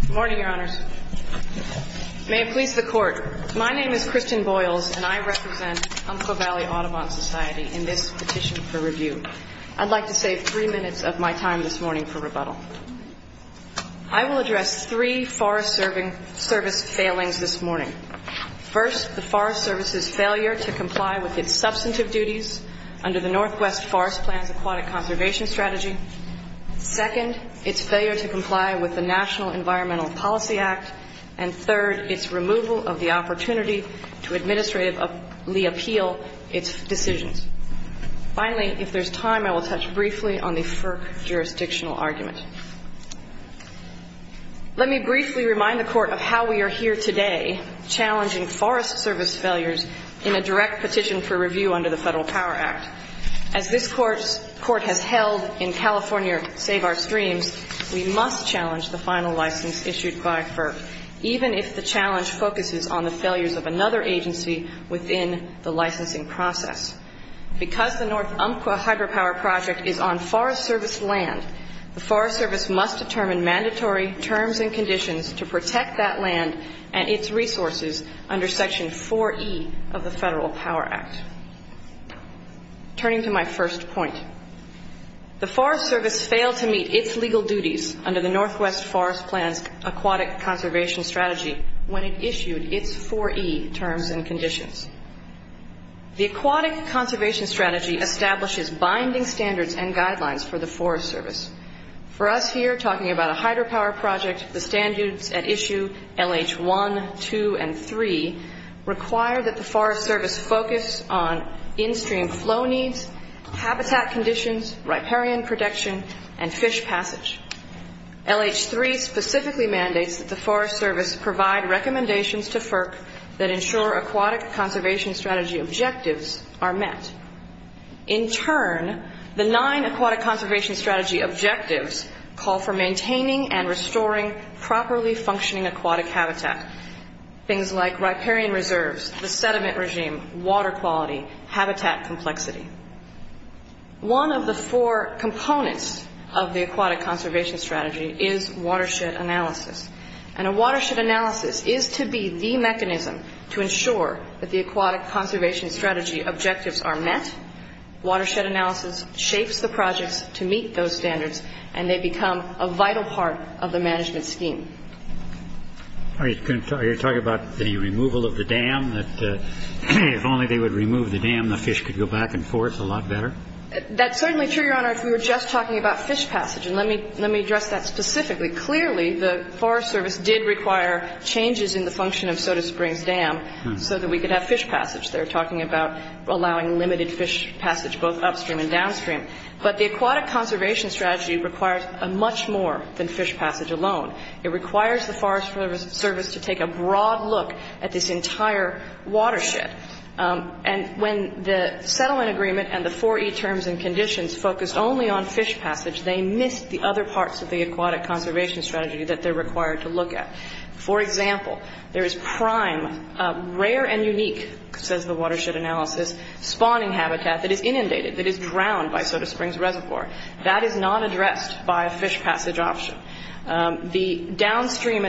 Good morning, Your Honors. May it please the Court, my name is Christian Boyles and I represent Umpqua Valley Audubon Society in this petition for review. I'd like to save three minutes of my time this morning for rebuttal. I will address three Forest Service failings this morning. First, the Forest Service's failure to comply with its substantive duties under the Northwest Forest Plan's Aquatic Conservation Strategy. Second, its failure to comply with the National Environmental Policy Act. And third, its removal of the opportunity to administratively appeal its decisions. Finally, if there's time, I will touch briefly on the FERC jurisdictional argument. Let me briefly remind the Court of how we are here today challenging Forest Service failures in a direct petition for review under the Federal Power Act. As this Court has held in California Save Our Streams, we must challenge the final license issued by FERC, even if the challenge focuses on the failures of another agency within the licensing process. Because the North Umpqua Hydropower Project is on Forest Service land, the Forest Service must determine mandatory terms and conditions to protect that land and its resources under Section 4E of the Federal Power Act. Turning to my first point, the Forest Service failed to meet its legal duties under the Northwest Forest Plan's Aquatic Conservation Strategy when it issued its 4E terms and conditions. The Aquatic Conservation Strategy establishes binding standards and guidelines for the Forest Service. For us here talking about a hydropower project, the standards at issue LH1, 2, and 3 require that the Forest Service focus on in-stream flow needs, habitat conditions, riparian protection, and fish passage. LH3 specifically mandates that the Forest Service provide recommendations to FERC that ensure Aquatic Conservation Strategy objectives are met. In turn, the nine Aquatic Conservation Strategy objectives call for maintaining and maintaining aquatic, riparian reserves, the sediment regime, water quality, habitat complexity. One of the four components of the Aquatic Conservation Strategy is watershed analysis. And a watershed analysis is to be the mechanism to ensure that the Aquatic Conservation Strategy objectives are met. Watershed analysis shapes the projects to meet those standards, and they become a vital part of the management scheme. Are you talking about the removal of the dam? That if only they would remove the dam, the fish could go back and forth a lot better? That's certainly true, Your Honor, if we were just talking about fish passage. And let me address that specifically. Clearly, the Forest Service did require changes in the function of Soda Springs Dam so that we could have fish passage. They're talking about allowing limited fish passage both upstream and downstream. But the Aquatic Conservation Strategy requires much more than fish passage alone. It requires the Forest Service to take a broad look at this entire watershed. And when the settlement agreement and the four E terms and conditions focused only on fish passage, they missed the other parts of the Aquatic Conservation Strategy that they're required to look at. For example, there is prime, rare and unique, says the watershed analysis, spawning habitat that is inundated, that is drowned by Soda Springs Reservoir. That is not addressed by a fish passage option. The downstream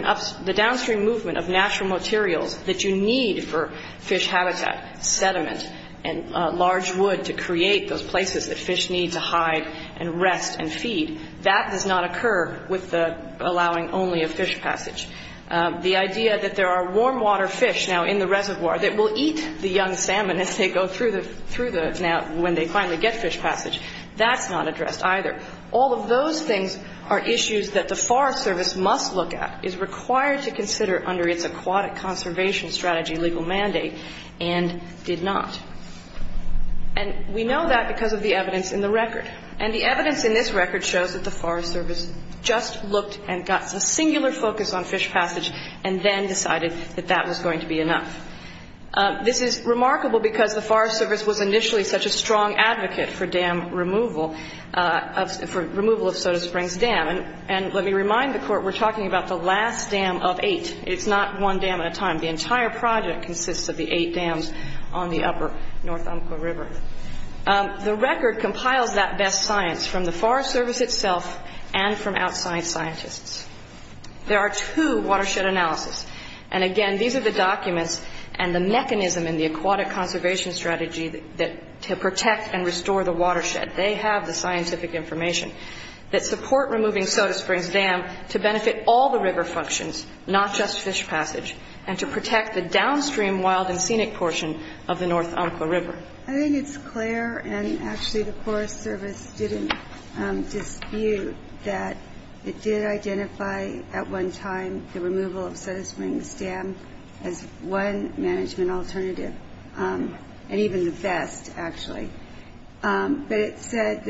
movement of natural materials that you need for fish habitat, sediment and large wood to create those places that fish need to hide and rest and feed, that does not occur with allowing only a fish passage. The idea that there are warm water fish now in the reservoir that will eat the young salmon as they go through the now, when they finally get fish passage, that's not addressed either. All of those things are issues that the Forest Service must look at, is required to consider under its Aquatic Conservation Strategy legal mandate, and did not. And we know that because of the evidence in the record. And the evidence in this record shows that the Forest Service just looked and got a singular focus on fish passage and then decided that that was going to be enough. This is remarkable because the Forest Service was initially such a strong advocate for dam removal, for removal of Soda Springs Dam. And let me remind the Court we're talking about the last dam of eight. It's not one dam at a time. The entire project consists of the eight dams on the upper North Umpqua River. The record compiles that best science from the Forest Service itself and from outside scientists. There are two watershed analysis. And again, these are the documents and the mechanism in the Aquatic Conservation Strategy to protect and restore the watershed. They have the scientific information that support removing Soda Springs Dam to benefit all the river functions, not just fish passage, and to protect the downstream wild and scenic portion of the North Umpqua River. I think it's clear, and actually the Forest Service didn't dispute that it did identify at one time the removal of Soda Springs Dam as one management alternative, and even the best, actually. But it said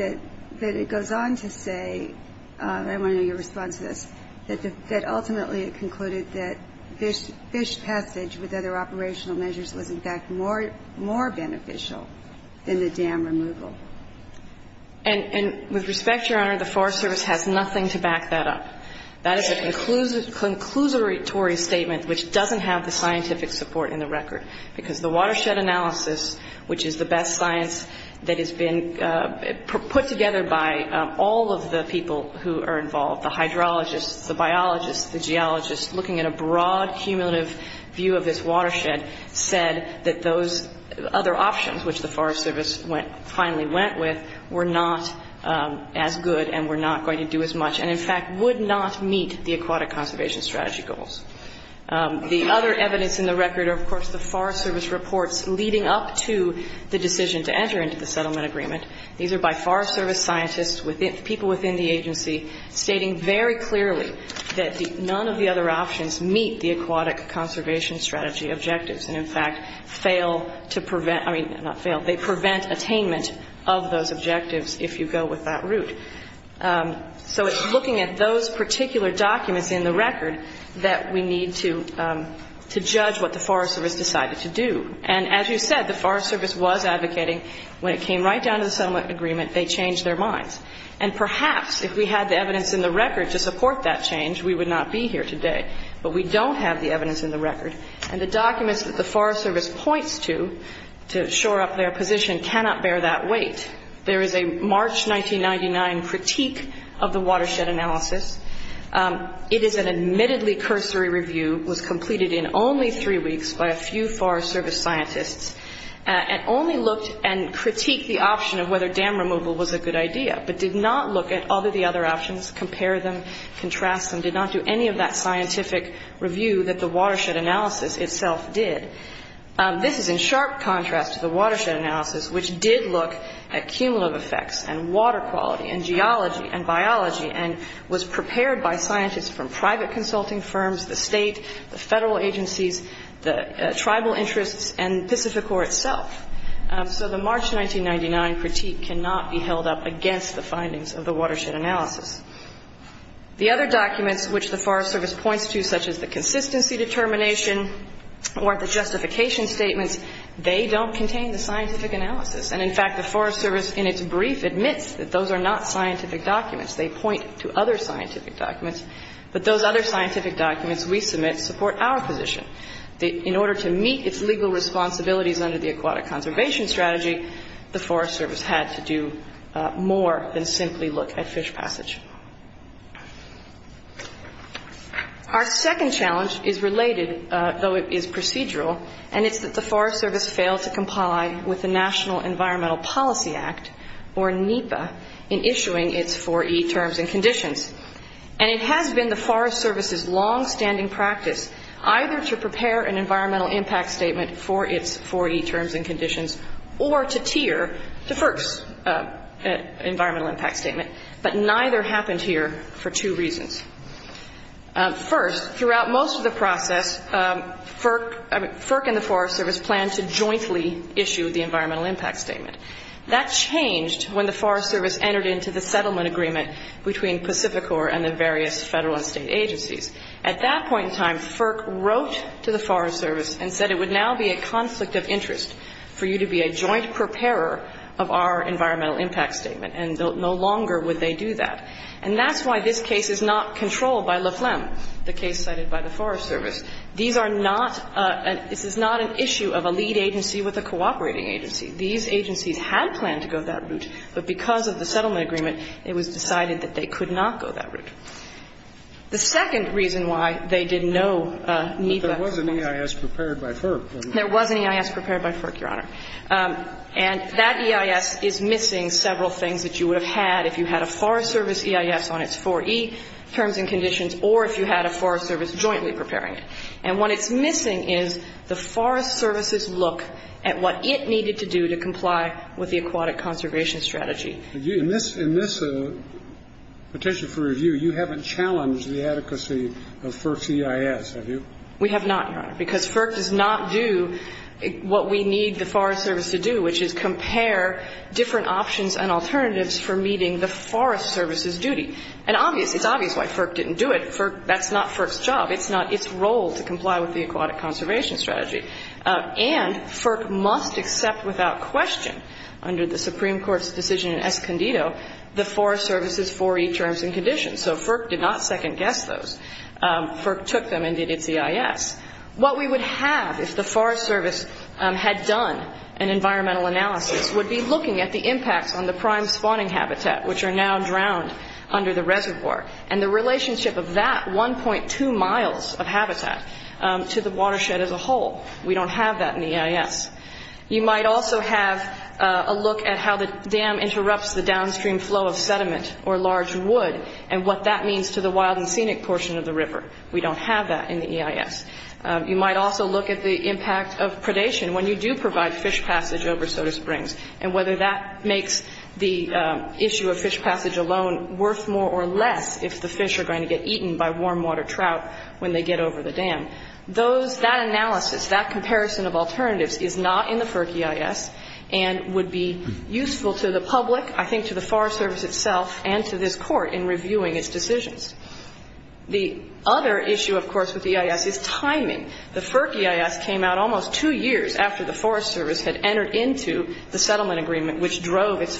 that it goes on to say, and I want to know your response to this, that ultimately it concluded that fish passage with other operational measures was in fact more beneficial than the dam removal. And with respect, Your Honor, the Forest Service has nothing to back that up. That is a conclusory statement which doesn't have the scientific support in the record. Because the watershed analysis, which is the best science that has been put together by all of the people who are involved, the hydrologists, the biologists, the geologists, looking at a broad cumulative view of this watershed, said that those other options, which the Forest Service finally went with, were not as good and were not going to do as much, and in fact would not meet the aquatic conservation strategy goals. The other evidence in the record are, of course, the Forest Service reports leading up to the decision to enter into the settlement agreement. These are by Forest Service scientists, people within the agency, stating very clearly that none of the other options meet the aquatic conservation strategy objectives, and in fact fail to prevent, I mean, not fail, they prevent attainment of those objectives if you go with that route. So it's looking at those particular documents in the record that we need to judge what the Forest Service decided to do. And as you said, the Forest Service was advocating, when it came right down to the settlement agreement, they changed their minds. And perhaps if we had the evidence in the record to support that change, we would not be here today. But we don't have the evidence in the record. And the documents that the Forest Service points to, to shore up their position, cannot bear that weight. There is a March 1999 critique of the watershed analysis. It is an admittedly cursory review, was completed in only three weeks by a few Forest Service scientists, and only looked and critiqued the option of whether dam removal was a good idea, but did not look at all of the other options, compare them, contrast them, did not do any of that scientific review that the watershed analysis itself did. This is in sharp contrast to the watershed analysis, which did look at cumulative effects and water quality and geology and biology, and was prepared by scientists from private consulting firms, the state, the federal agencies, the tribal interests, and Pacificor itself. So the March 1999 critique cannot be held up against the findings of the watershed analysis. The other documents which the Forest Service points to, such as the consistency determination or the justification statements, they don't contain the scientific analysis. And in fact, the Forest Service in its brief admits that those are not scientific documents. They point to other scientific documents. But those other scientific documents we submit support our position, that in order to meet its legal responsibilities under the aquatic conservation strategy, the Forest Service had to do more than simply look at fish passage. Our second challenge is related, though it is procedural, and it's that the Forest Service failed to comply with the National Environmental Policy Act, or NEPA, in issuing its 4E terms and conditions. And it has been the Forest Service's longstanding practice either to prepare an environmental impact statement for its 4E terms and conditions or to tier the FERC's environmental impact statement. But neither happened here for two reasons. First, throughout most of the process, FERC and the Forest Service planned to jointly issue the environmental impact statement. That changed when the Forest Service entered into the settlement agreement between Pacificor and the various Federal and State agencies. At that point in time, FERC wrote to the Forest Service and said it would now be a conflict of interest for you to be a joint preparer of our environmental impact statement, and no longer would they do that. And that's why this case is not controlled by LEFLEM, the case cited by the Forest Service. These are not an issue of a lead agency with a cooperating agency. These agencies had planned to go that route, but because of the settlement agreement, it was decided that they could not go that route. The second reason why they did no NEPA work was that there was an EIS prepared by FERC. There was an EIS prepared by FERC, Your Honor. And that EIS is missing several things that you would have had if you had a Forest Service EIS on its 4E terms and conditions or if you had a Forest Service jointly preparing it. And what it's missing is the Forest Service EIS. And that EIS is missing some of the things that FERC needed to do to comply with the Aquatic Conservation Strategy. In this petition for review, you haven't challenged the adequacy of FERC's EIS, have you? We have not, Your Honor, because FERC does not do what we need the Forest Service to do, which is compare different options and alternatives for meeting the Forest Service's duty. And obviously, it's obvious why FERC didn't do it. That's not FERC's job. It's not its role to comply with the Aquatic Conservation Strategy. And FERC must accept without question, under the Supreme Court's decision in Escondido, the Forest Service's 4E terms and conditions. So FERC did not second-guess those. FERC took them and did its EIS. What we would have if the Forest Service had done an environmental analysis would be looking at the impacts on the prime spawning habitat, which are now drowned under the reservoir. And the relationship of that 1.2 miles of habitat to the watershed as a whole. We don't have that in the EIS. You might also have a look at how the dam interrupts the downstream flow of sediment or large wood and what that means to the wild and scenic portion of the river. We don't have that in the EIS. You might also look at the impact of predation when you do provide fish passage over Soda if the fish are going to get eaten by warm water trout when they get over the dam. That analysis, that comparison of alternatives is not in the FERC EIS and would be useful to the public, I think to the Forest Service itself, and to this Court in reviewing its decisions. The other issue, of course, with the EIS is timing. The FERC EIS came out almost two years after the Forest Service had entered into the settlement agreement, which drove its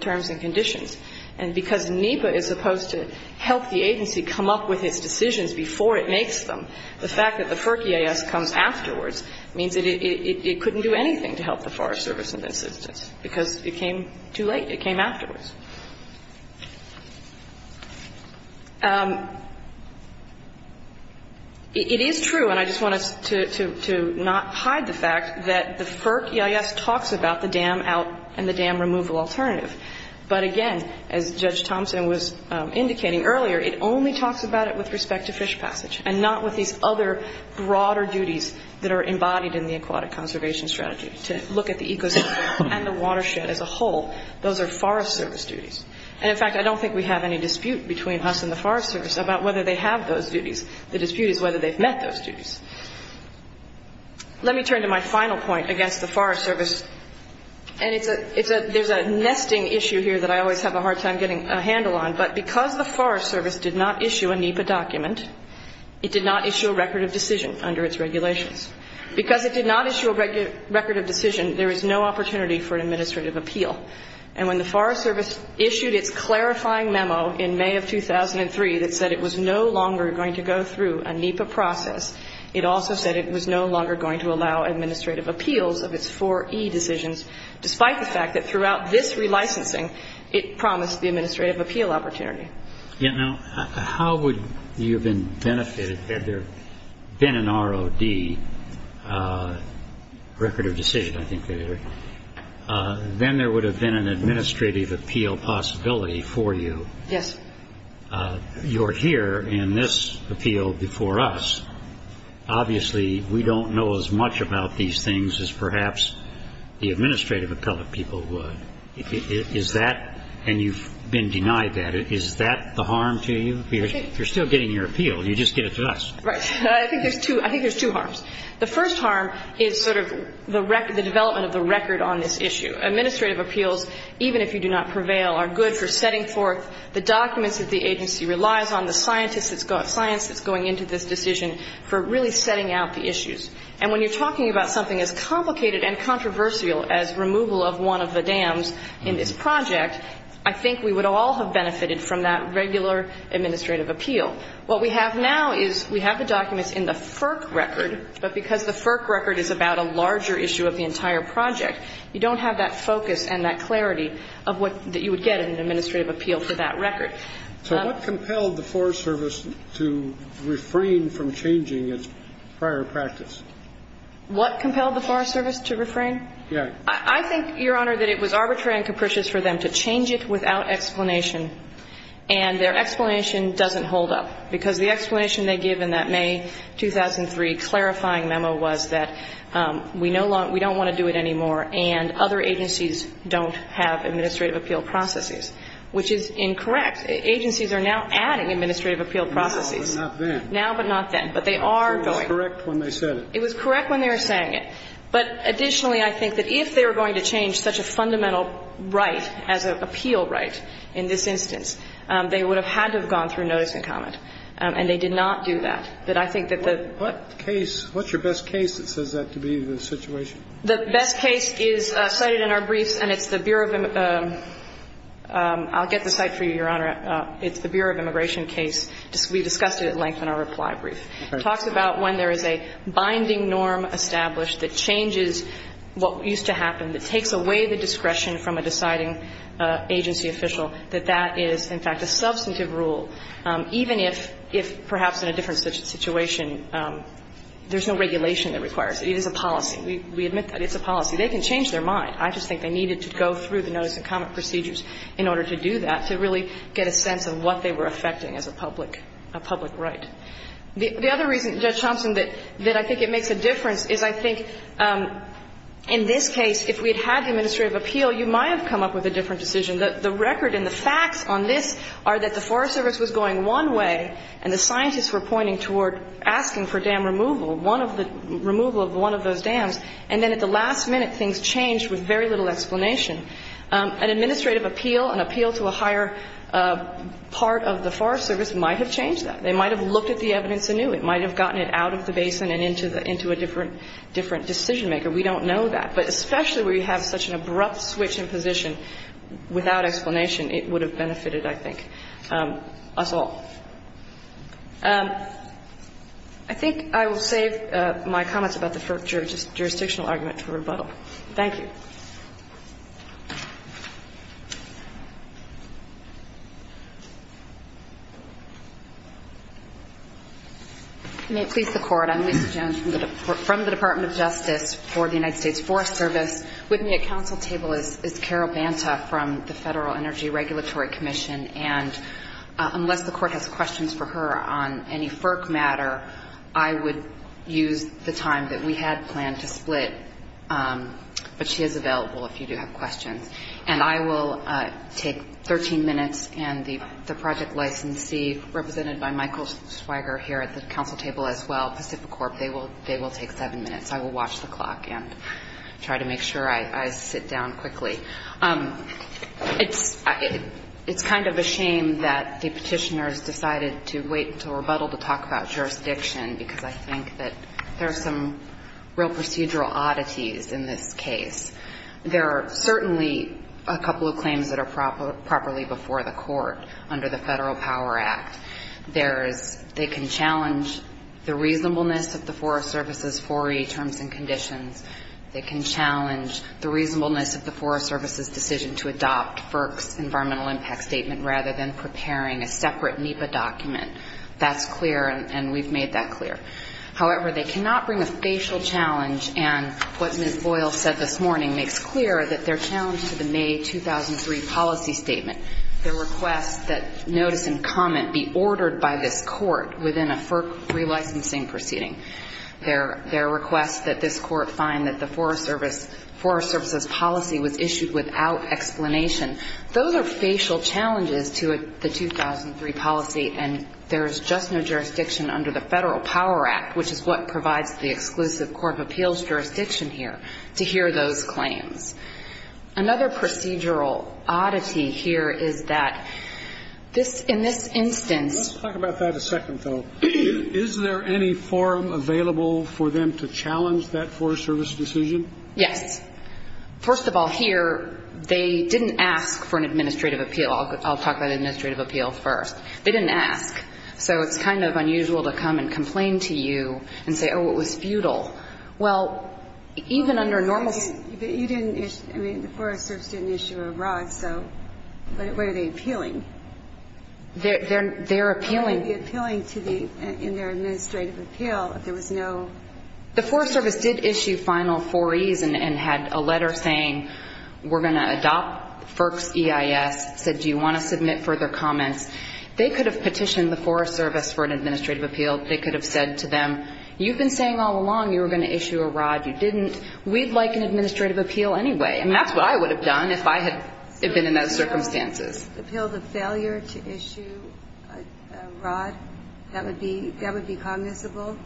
terms and conditions. And because NEPA is supposed to help the agency come up with its decisions before it makes them, the fact that the FERC EIS comes afterwards means that it couldn't do anything to help the Forest Service in this instance because it came too late. It came afterwards. It is true, and I just want to not hide the fact that the FERC EIS talks about the dam out and the dam removal alternative. But again, as Judge Thompson was indicating earlier, it only talks about it with respect to fish passage and not with these other broader duties that are embodied in the Aquatic Conservation Strategy, to look at the ecosystem and the watershed as a whole. Those are Forest Service duties. And in fact, I don't think we have any dispute between us and the Forest Service about whether they have those duties. The dispute is whether they've met those duties. Let me turn to my final point against the Forest Service. And it's a, it's a, there's a nesting issue here that I always have a hard time getting a handle on. But because the Forest Service did not issue a NEPA document, it did not issue a record of decision under its regulations. Because it did not issue a record of decision, there is no opportunity for an administrative appeal. And when the Forest Service issued its clarifying memo in May of 2003 that said it was no longer going to go through a NEPA process, it did not issue a record of decision under its regulations. It also said it was no longer going to allow administrative appeals of its 4E decisions, despite the fact that throughout this relicensing, it promised the administrative appeal opportunity. Yeah, now, how would you have been benefited had there been an ROD, record of decision, I think they were, then there would have been an administrative appeal possibility for you. Yes. You're here in this appeal before us. Obviously, we don't know as much about these things as perhaps the administrative appellate people would. Is that, and you've been denied that, is that the harm to you? You're still getting your appeal. You just get it to us. Right. I think there's two, I think there's two harms. The first harm is sort of the record, the development of the record on this issue. Administrative appeals, even if you do not prevail, are good for setting forth the documents that the agency relies on, the scientists that's going into this decision for really setting out the issues. And when you're talking about something as complicated and controversial as removal of one of the dams in this project, I think we would all have benefited from that regular administrative appeal. What we have now is we have the documents in the FERC record, but because the FERC record is about a larger issue of the entire project, you don't have that focus and that focus that you would get in an administrative appeal for that record. So what compelled the Forest Service to refrain from changing its prior practice? What compelled the Forest Service to refrain? Yeah. I think, Your Honor, that it was arbitrary and capricious for them to change it without explanation, and their explanation doesn't hold up, because the explanation they give in that May 2003 clarifying memo was that we no longer, we don't want to do it anymore, and other agencies don't have administrative appeal processes, which is incorrect. Agencies are now adding administrative appeal processes. Now but not then. Now but not then. But they are going. It was correct when they said it. It was correct when they were saying it. But additionally, I think that if they were going to change such a fundamental right as an appeal right in this instance, they would have had to have gone through notice and comment. And they did not do that. But I think that the What case, what's your best case that says that to be the situation? The best case is cited in our briefs, and it's the Bureau of, I'll get the cite for you, Your Honor. It's the Bureau of Immigration case. We discussed it at length in our reply brief. It talks about when there is a binding norm established that changes what used to happen, that takes away the discretion from a deciding agency official, that that is, in fact, a substantive rule. Even if, perhaps in a different situation, there's no regulation that requires it is a policy. We admit that it's a policy. They can change their mind. I just think they needed to go through the notice and comment procedures in order to do that, to really get a sense of what they were affecting as a public right. The other reason, Judge Thompson, that I think it makes a difference is I think in this case, if we had had the administrative appeal, you might have come up with a different decision. The record and the facts on this are that the Forest Service was going one way, and the scientists were pointing toward asking for dam removal. One of the removal of one of those dams. And then at the last minute, things changed with very little explanation. An administrative appeal, an appeal to a higher part of the Forest Service might have changed that. They might have looked at the evidence anew. It might have gotten it out of the basin and into a different decision maker. We don't know that. But especially where you have such an abrupt switch in position, without explanation, it would have benefited, I think, us all. I think I will save my comments about the jurisdictional argument for rebuttal. Thank you. May it please the Court. I'm Lisa Jones from the Department of Justice for the United States Forest Service. With me at council table is Carol Banta from the Federal Energy Regulatory Commission. And unless the Court has questions for her on any FERC matter, I would use the time that we had planned to split. But she is available if you do have questions. And I will take 13 minutes, and the project licensee, represented by Michael Schweiger here at the council table as well, Pacific Corp., they will take seven minutes. I will watch the clock and try to make sure I sit down quickly. It's kind of a shame that the petitioners decided to wait until rebuttal to talk about jurisdiction, because I think that there are some real procedural oddities in this case. There are certainly a couple of claims that are properly before the Court under the Federal Power Act. They can challenge the reasonableness of the Forest Service's 4E terms and conditions. They can challenge the reasonableness of the Forest Service's decision to adopt FERC's environmental impact statement rather than preparing a separate NEPA document. That's clear, and we've made that clear. However, they cannot bring a facial challenge, and what Ms. Boyle said this morning makes clear that their challenge to the May 2003 policy statement, their request that notice and comment be ordered by this Court within a FERC relicensing proceeding. Their request that this Court find that the Forest Service's policy was issued without explanation. Those are facial challenges to the 2003 policy, and there is just no jurisdiction under the Federal Power Act, which is what provides the exclusive court of appeals jurisdiction here, to hear those claims. Another procedural oddity here is that in this instance ---- Let's talk about that a second, though. Is there any forum available for them to challenge that Forest Service decision? Yes. First of all, here, they didn't ask for an administrative appeal. I'll talk about administrative appeal first. They didn't ask, so it's kind of unusual to come and complain to you and say, oh, it was futile. Well, even under normal ---- You didn't issue ---- I mean, the Forest Service didn't issue a rod, so what are they appealing? They're appealing ---- What are they appealing in their administrative appeal if there was no ---- The Forest Service did issue final four Es and had a letter saying we're going to adopt FERC's EIS, said do you want to submit further comments. They could have petitioned the Forest Service for an administrative appeal. They could have said to them, you've been saying all along you were going to issue a rod. You didn't. We'd like an administrative appeal anyway, and that's what I would have done if I had been in those circumstances. Appeal the failure to issue a rod? That would be cognizable?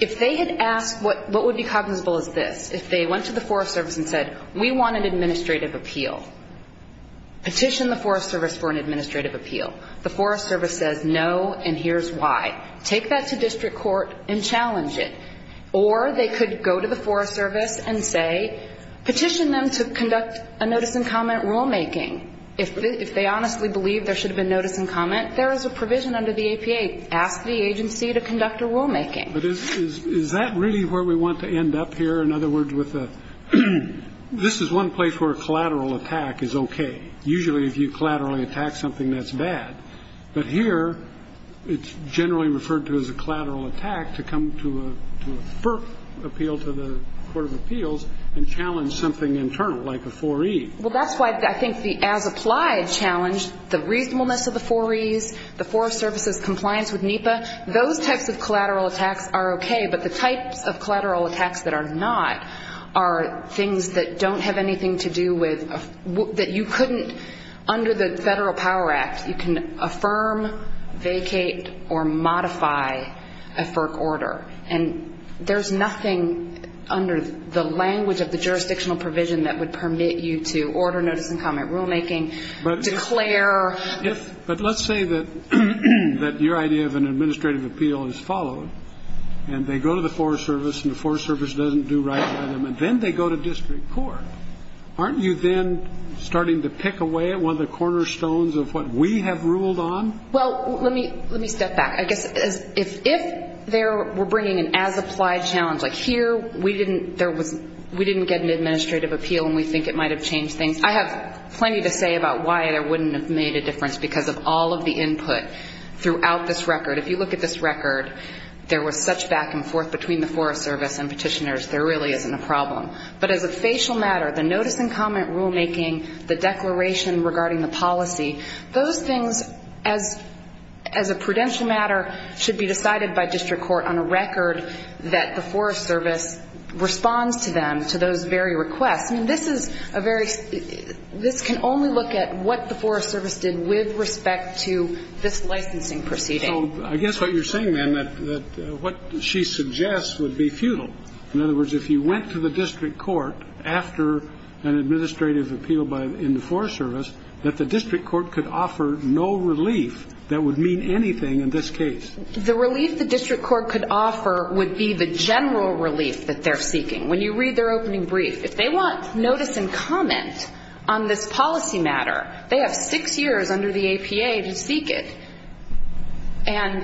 If they had asked, what would be cognizable is this. If they went to the Forest Service and said, we want an administrative appeal, petition the Forest Service for an administrative appeal. The Forest Service says no, and here's why. Take that to district court and challenge it. Or they could go to the Forest Service and say, petition them to conduct a notice and comment rulemaking. If they honestly believe there should have been notice and comment, there is a provision under the APA. Ask the agency to conduct a rulemaking. But is that really where we want to end up here? In other words, this is one place where a collateral attack is okay. Usually, if you collaterally attack something, that's bad. But here, it's generally referred to as a collateral attack to come to a FERC appeal to the court of appeals and challenge something internal, like a 4E. Well, that's why I think the as-applied challenge, the reasonableness of the 4Es, the Forest Service's compliance with NEPA, those types of collateral attacks are okay. But the types of collateral attacks that are not are things that don't have anything to do with, that you couldn't, under the Federal Power Act, you can affirm, vacate, or modify a FERC order. And there's nothing under the language of the jurisdictional provision that would permit you to order notice and comment rulemaking, declare. But let's say that your idea of an administrative appeal is followed, and they go to the Forest Service, and the Forest Service doesn't do right by them, and then they go to district court. Aren't you then starting to pick away at one of the cornerstones of what we have ruled on? Well, let me step back. I guess if they were bringing an as-applied challenge, like here, we didn't get an administrative appeal, and we think it might have changed things. I have plenty to say about why it wouldn't have made a difference, because of all of the input throughout this record. If you look at this record, there was such back and forth between the Forest Service and petitioners, there really isn't a problem. But as a facial matter, the notice and comment rulemaking, the declaration regarding the policy, those things, as a prudential matter, should be decided by district court on a record that the Forest Service responds to them, to those very requests. I mean, this is a very – this can only look at what the Forest Service did with respect to this licensing proceeding. So I guess what you're saying, then, that what she suggests would be futile. In other words, if you went to the district court after an administrative appeal in the Forest Service, that the district court could offer no relief that would mean anything in this case. The relief the district court could offer would be the general relief that they're seeking. When you read their opening brief, if they want notice and comment on this policy matter, they have six years under the APA to seek it. And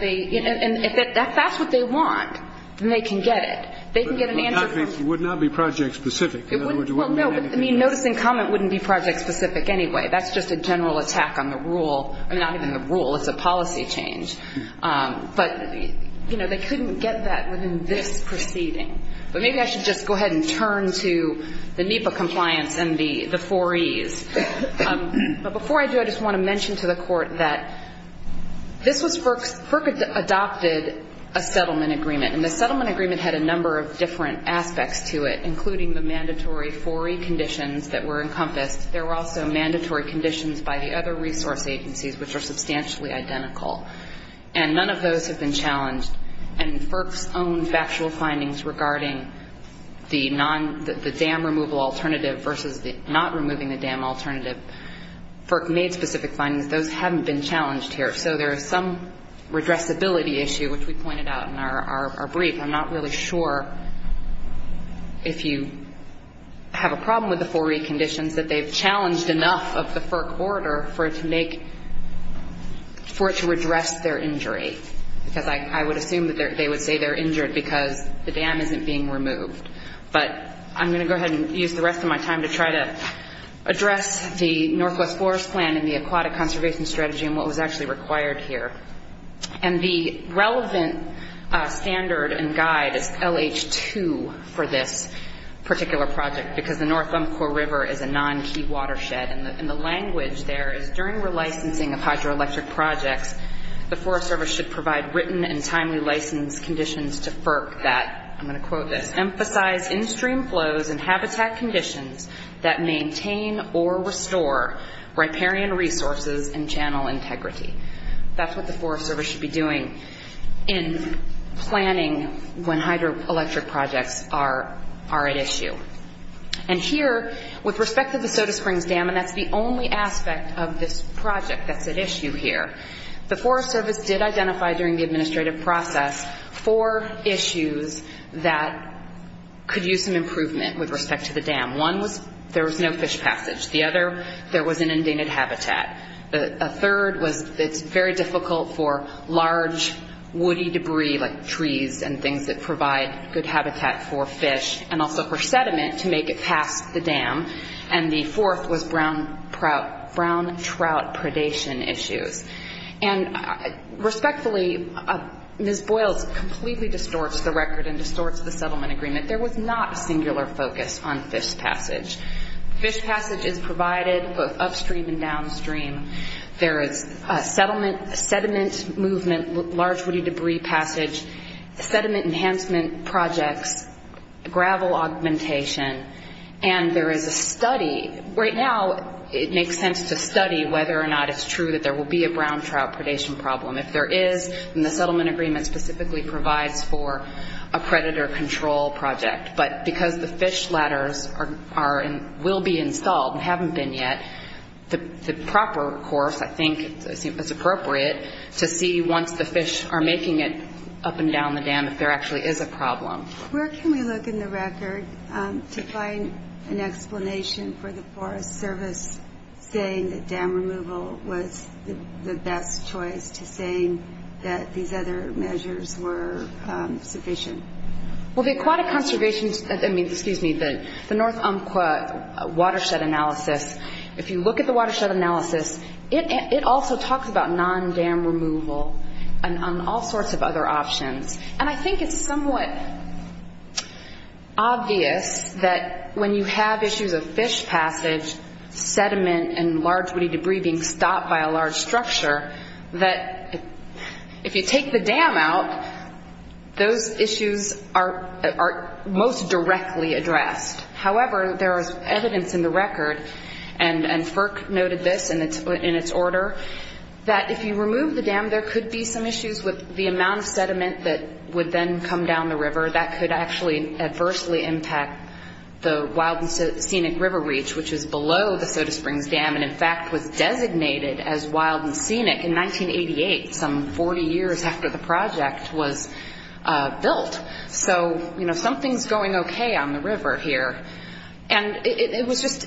if that's what they want, then they can get it. They can get an answer from – But it would not be project specific. It wouldn't – well, no, but I mean, notice and comment wouldn't be project specific anyway. That's just a general attack on the rule – I mean, not even the rule. It's a policy change. But, you know, they couldn't get that within this proceeding. But maybe I should just go ahead and turn to the NEPA compliance and the 4Es. But before I do, I just want to mention to the court that this was – FERC adopted a settlement agreement. And the settlement agreement had a number of different aspects to it, including the mandatory 4E conditions that were encompassed. There were also mandatory conditions by the other resource agencies, which are FERC. And none of those have been challenged. And FERC's own factual findings regarding the dam removal alternative versus not removing the dam alternative, FERC made specific findings. Those haven't been challenged here. So there is some redressability issue, which we pointed out in our brief. I'm not really sure if you have a problem with the 4E conditions that they've made for it to redress their injury. Because I would assume that they would say they're injured because the dam isn't being removed. But I'm going to go ahead and use the rest of my time to try to address the Northwest Forest Plan and the aquatic conservation strategy and what was actually required here. And the relevant standard and guide is LH2 for this particular project because the North Umpqua River is a non-key watershed. And the language there is during relicensing of hydroelectric projects, the Forest Service should provide written and timely license conditions to FERC that, I'm going to quote this, emphasize in-stream flows and habitat conditions that maintain or restore riparian resources and channel integrity. That's what the Forest Service should be doing in planning when hydroelectric projects are at issue. And here, with respect to the Soda Springs Dam, and that's the only aspect of this project that's at issue here, the Forest Service did identify during the administrative process four issues that could use some improvement with respect to the dam. One was there was no fish passage. The other, there was an inundated habitat. A third was it's very difficult for large woody debris like trees and things that provide good habitat for fish, and also for sediment to make it past the dam. And the fourth was brown trout predation issues. And respectfully, Ms. Boyles completely distorts the record and distorts the settlement agreement. There was not a singular focus on fish passage. Fish passage is provided both upstream and downstream. There is sediment movement, large woody debris passage, sediment enhancement projects, gravel augmentation, and there is a study. Right now, it makes sense to study whether or not it's true that there will be a brown trout predation problem. If there is, then the settlement agreement specifically provides for a predator control project. But because the fish ladders will be installed and haven't been yet, the proper course, I think it's appropriate, to see once the fish are making it up and down the dam if there actually is a problem. Where can we look in the record to find an explanation for the Forest Service saying that dam removal was the best choice to saying that these other measures were sufficient? Well, the aquatic conservation, I mean, excuse me, the North Umpqua watershed analysis, if you look at the watershed analysis, it also talks about non-dam removal and all sorts of other options. And I think it's somewhat obvious that when you have issues of fish passage, sediment, and large woody debris being stopped by a large structure, that if you take the dam out, those issues are most directly addressed. However, there is evidence in the record, and FERC noted this in its order, that if you remove the dam, there could be some issues with the amount of sediment that would then come down the river that could actually adversely impact the Wild and Scenic River Reach, which is below the Soda Springs Dam and in fact was designated as Wild and Scenic in 1988, some 40 years after the project was built. So, you know, something's going okay on the river here. And it was just,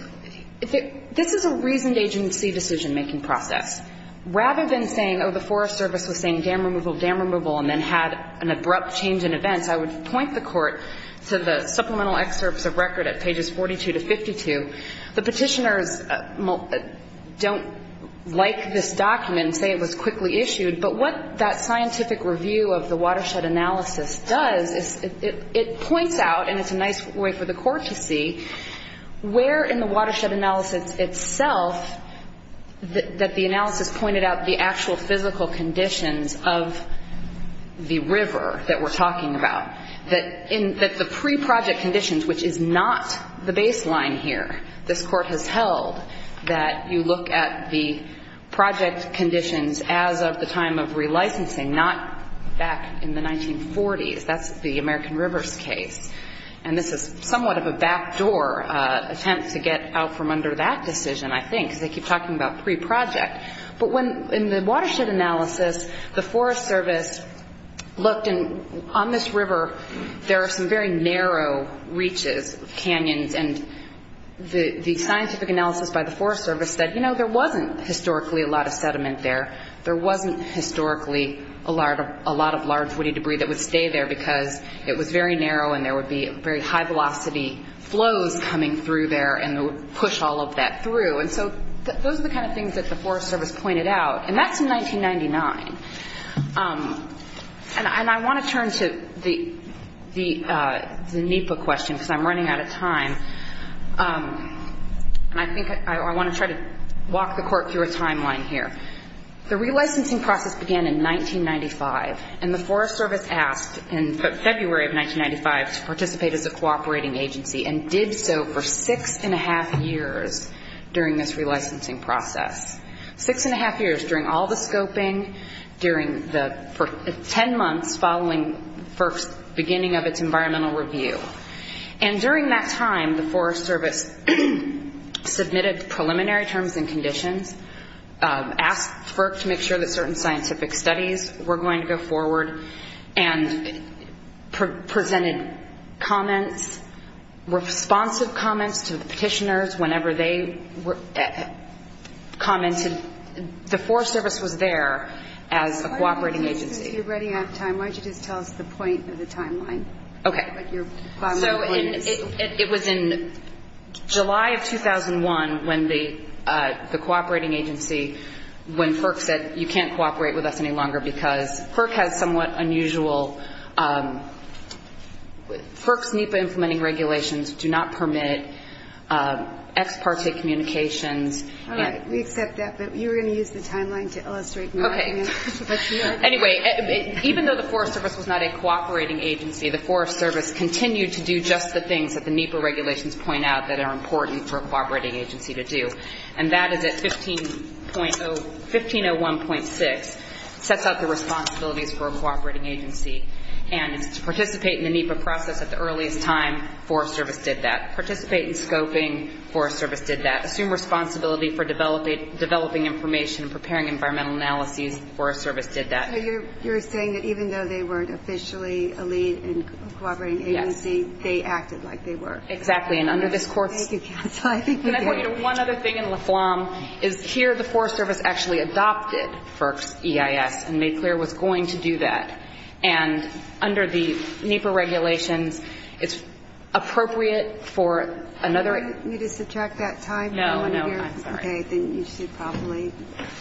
this is a reasoned agency decision-making process. Rather than saying, oh, the Forest Service was saying dam removal, dam removal, and then had an abrupt change in events, I would point the court to the supplemental excerpts of record at pages 42 to 52. The petitioners don't like this document and say it was quickly issued, but what that scientific review of the watershed analysis does is it points out, and it's a nice way for the court to see, where in the watershed analysis itself that the analysis pointed out the actual physical conditions of the river that we're talking about. That the pre-project conditions, which is not the baseline here, this court has held that you look at the project conditions as of the time of relicensing, not back in the 1940s. That's the American Rivers case. And this is somewhat of a backdoor attempt to get out from under that decision, I think, because they keep talking about pre-project. But when, in the watershed analysis, the Forest Service looked, and on this river there are some very narrow reaches, canyons, and the scientific analysis by the Forest Service said, you know, there wasn't historically a lot of sediment there. There wasn't historically a lot of large woody debris that would stay there because it was very narrow and there would be very high velocity flows coming through there and would push all of that through. And so those are the kind of things that the Forest Service pointed out. And that's in 1999. And I want to turn to the NEPA question because I'm running out of time. And I think I want to try to walk the court through a timeline here. The relicensing process began in 1995 and the Forest Service asked in February of 1995 to participate as a cooperating agency and did so for six and a half years during this relicensing process. Six and a half years during all the scoping, for ten months following FERC's beginning of its environmental review. And during that time, the Forest Service submitted preliminary terms and conditions, asked FERC to make sure that certain scientific studies were going to go forward, and presented comments, responsive comments to the petitioners whenever they commented. The Forest Service was there as a cooperating agency. You're running out of time. Why don't you just tell us the point of the timeline? Okay. So it was in July of 2001 when the cooperating agency, when FERC said, you can't cooperate with us any longer because FERC has somewhat unusual... FERC's NEPA implementing regulations do not permit ex parte communications. All right. We accept that, but you were going to use the timeline to illustrate nothing else. Okay. Anyway, even though the Forest Service was not a cooperating agency, the Forest Service continued to do just the things that the NEPA regulations point out that are important for a cooperating agency to do. And that is that 1501.6 sets out the responsibilities for a cooperating agency. And it's to participate in the NEPA process at the earliest time. Forest Service did that. Participate in scoping. Forest Service did that. Assume responsibility for developing information and preparing environmental analyses. Forest Service did that. So you're saying that even though they weren't officially a lead in a cooperating agency, they acted like they were. Exactly. And under this court's... Thank you, counsel. And I want you to know one other thing in La Flamme is here the Forest Service actually adopted FERC's EIS and made clear it was going to do that. And under the NEPA regulations, it's appropriate for another... Do I need to subtract that time? No, no, I'm sorry. Okay, then you should probably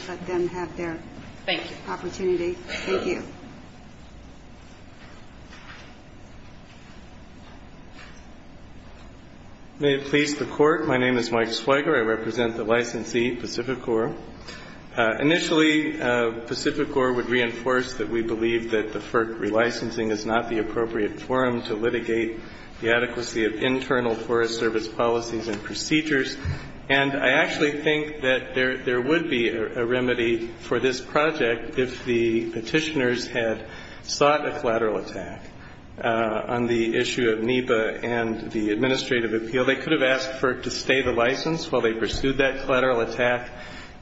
let them have their... Thank you. ...opportunity. Thank you. May it please the court, my name is Mike Swigert. I represent the licensee, Pacific Corps. Initially, Pacific Corps would reinforce that we believe that the FERC relicensing is not the appropriate forum to litigate the adequacy of internal Forest Service policies and procedures. And I actually think that there would be a remedy for this project if the petitioners had sought a collateral attack on the issue of NEPA and the administrative appeal. They could have asked FERC to stay the license while they pursued that collateral attack.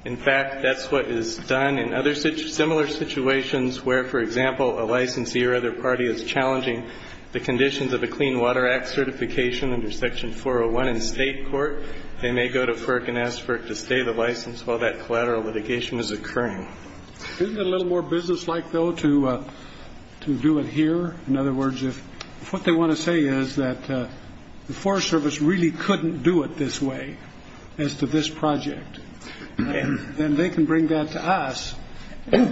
In fact, that's what is done in other similar situations where, for example, a licensee or other party is challenging the conditions of a Clean Water Act certification under Section 401 in state court. They may go to FERC and ask FERC to stay the license while that collateral litigation is occurring. Isn't it a little more businesslike, though, to do it here? In other words, if what they want to say is that the Forest Service really couldn't do it this way as to this project, then they can bring that to us.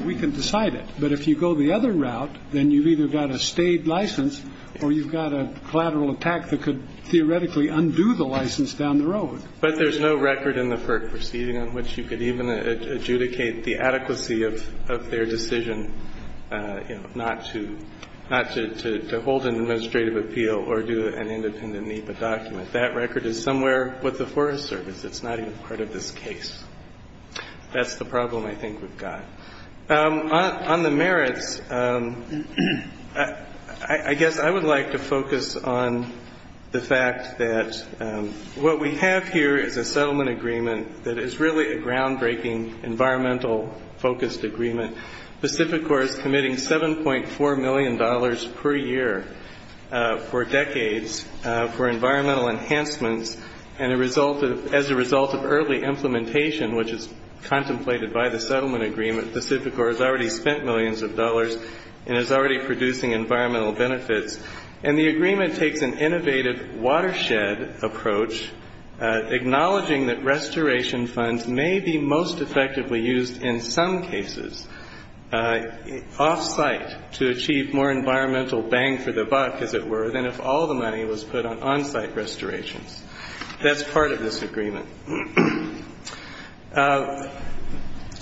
We can decide it. But if you go the other route, then you've either got a stayed license or you've got a collateral attack that could theoretically undo the license down the road. But there's no record in the FERC proceeding on which you could even adjudicate the adequacy of their decision, you know, not to hold an administrative appeal or do an independent NEPA document. That record is somewhere with the Forest Service. It's not even part of this case. That's the problem, I think, we've got. On the merits, I guess I would like to focus on the fact that what we have here is a settlement agreement that is really a groundbreaking environmental-focused agreement. Pacificor is committing $7.4 million per year for decades for environmental enhancements, and as a result of early implementation, which is contemplated by the settlement agreement, Pacificor has already spent millions of dollars and is already producing environmental benefits. And the agreement takes an innovative watershed approach, acknowledging that restoration funds may be most effectively used in some cases off-site to achieve more environmental bang for the buck, as it were, than if all the money was put on on-site restorations. That's part of this agreement.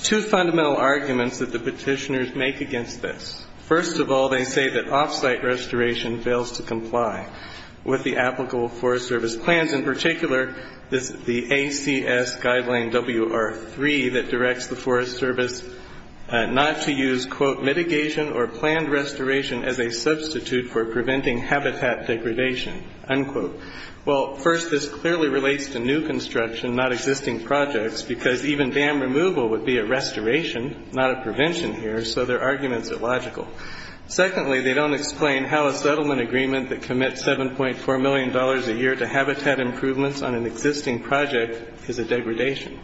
Two fundamental arguments that the petitioners make against this. First of all, they say that off-site restoration fails to comply with the applicable Forest Service plans, in particular the ACS Guideline WR-3 that directs the Forest Service not to use "...mitigation or planned restoration as a substitute for preventing habitat degradation." Well, first, this clearly relates to new construction, not existing projects, because even dam removal would be a restoration, not a prevention here, so their arguments are logical. Secondly, they don't explain how a settlement agreement that commits $7.4 million a year to habitat improvements on an existing project is a degradation.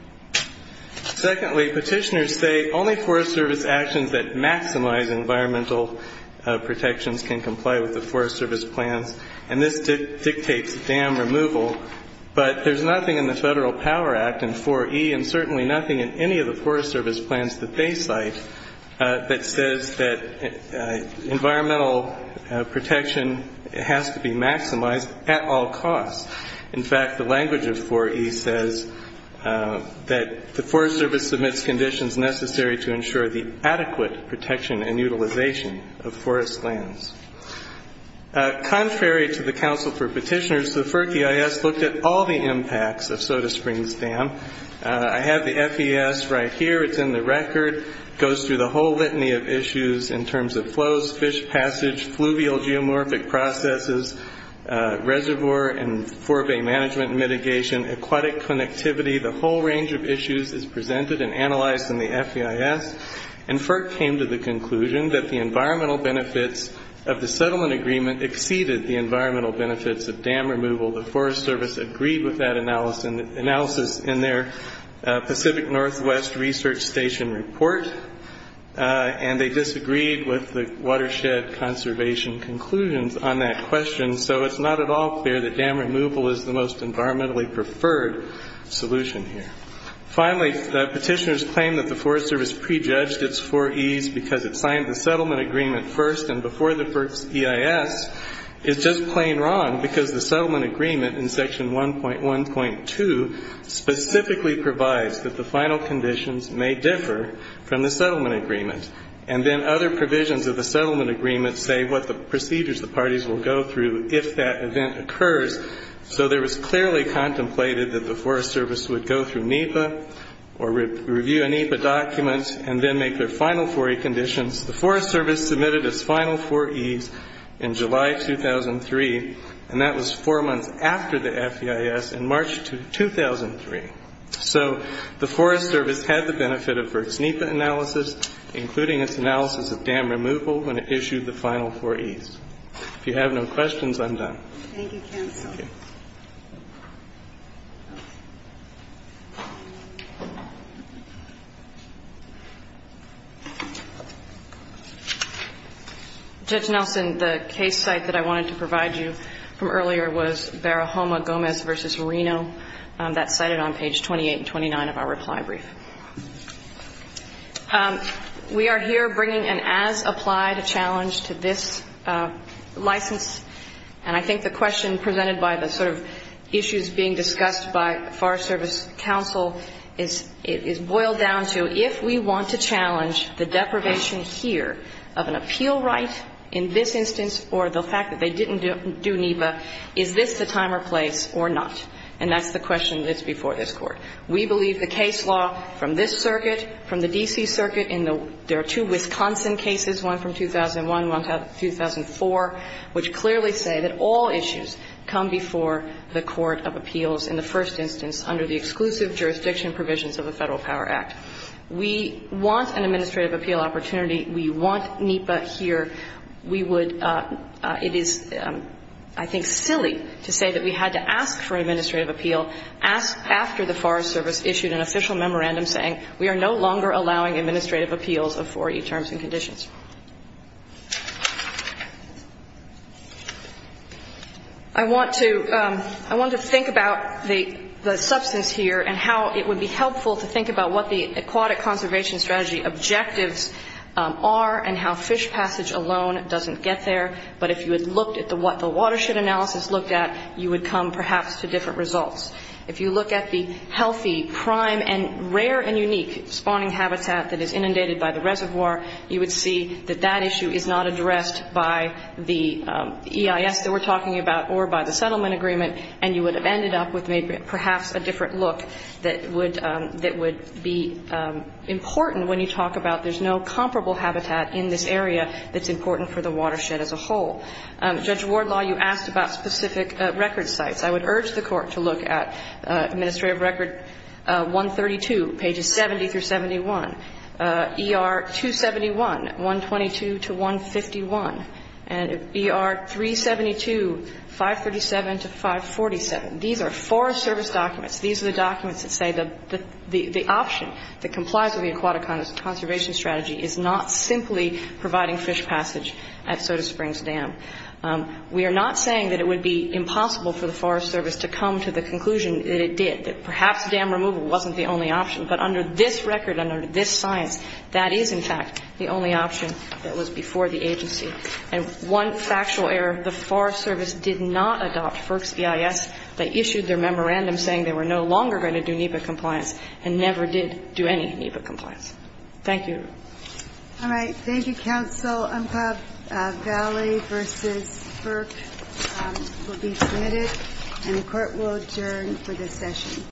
Secondly, petitioners say only Forest Service actions that maximize environmental protections can comply with the Forest Service plans, and this dictates dam removal, but there's nothing in the Federal Power Act and 4E and certainly nothing in any of the Forest Service plans that they cite that says that environmental protection has to be maximized at all costs. In fact, the language of 4E says that the Forest Service submits conditions necessary to ensure the adequate protection and utilization of forest lands. Contrary to the Council for Petitioners, the FERC EIS looked at all the impacts of Soda Springs Dam. I have the FES right here. It's in the record. It goes through the whole litany of issues in terms of flows, fish passage, fluvial geomorphic processes, reservoir and forebay management mitigation, aquatic connectivity. The whole range of issues is presented and analyzed in the FEIS, and FERC came to the conclusion that the environmental benefits of the settlement agreement exceeded the environmental benefits of dam removal. The Forest Service agreed with that analysis in their Pacific Northwest Research Station report, and they disagreed with the watershed conservation conclusions on that question, so it's not at all clear that dam removal is the most environmentally preferred solution here. Finally, the petitioners claim that the Forest Service prejudged its 4Es because it signed the settlement agreement first and before the FERC's EIS is just plain wrong because the settlement agreement in Section 1.1.2 specifically provides that the final conditions may differ from the settlement agreement, and then other provisions of the settlement agreement say what the procedures the parties will go through if that event occurs, so there was clearly contemplated that the Forest Service would go through NEPA or review a NEPA document and then make their final 4E conditions. The Forest Service submitted its final 4Es in July 2003, and that was four months after the FEIS, in March 2003. So the Forest Service had the benefit of FERC's NEPA analysis, including its analysis of dam removal when it issued the final 4Es. If you have no questions, I'm done. Thank you, counsel. Judge Nelson, the case site that I wanted to provide you from earlier was Barahoma Gomez v. Reno that's cited on page 28 and 29 of our reply brief. We are here bringing an as-applied challenge to this license, and I think the question presented by the sort of issues being discussed by Forest Service counsel is boiled down to if we want to challenge the deprivation here of an appeal right in this instance or the fact that they didn't do NEPA, is this the time or place or not? And that's the question that's before this Court. We believe the case law from this Circuit, from the D.C. Circuit, and there are two Wisconsin cases, one from 2001, one from 2004, which clearly say that all issues come before the Court of Appeals in the first instance under the exclusive jurisdiction provisions of the Federal Power Act. We want an administrative appeal opportunity. We want NEPA here. We would – it is, I think, silly to say that we had to ask for an administrative appeal after the Forest Service issued an official memorandum saying we are no longer allowing administrative appeals of 4E terms and conditions. I want to think about the substance here and how it would be helpful to think about what the Aquatic Conservation Strategy objectives are and how fish passage alone doesn't get there, but if you had looked at what the watershed analysis looked at, you would come, perhaps, to different results. If you look at the healthy, prime and rare and unique spawning habitat that is inundated by the reservoir, you would see that that issue is not addressed by the EIS that we're talking about or by the settlement agreement, and you would have ended up with perhaps a different look that would be important when you talk about there's no comparable habitat in this area that's important for the watershed as a whole. Judge Wardlaw, you asked about specific record sites. I would urge the Court to look at Administrative Record 132, pages 70 through 71, ER 271, 122 to 151, and ER 372, 537 to 547. These are Forest Service documents. These are the documents that say the option that complies with the Aquatic Conservation Strategy is not simply providing fish passage at Soda Springs Dam. We are not saying that it would be impossible for the Forest Service to come to the conclusion that it did, that perhaps dam removal wasn't the only option, but under this record and under this science that is, in fact, the only option that was before the agency. And one factual error, the Forest Service did not adopt FERC's EIS. They issued their memorandum saying they were no longer going to do NEPA compliance and never did do any NEPA compliance. Thank you. All right. Thank you, Counsel. Unpub Valley v. FERC will be submitted and the Court will adjourn for this session.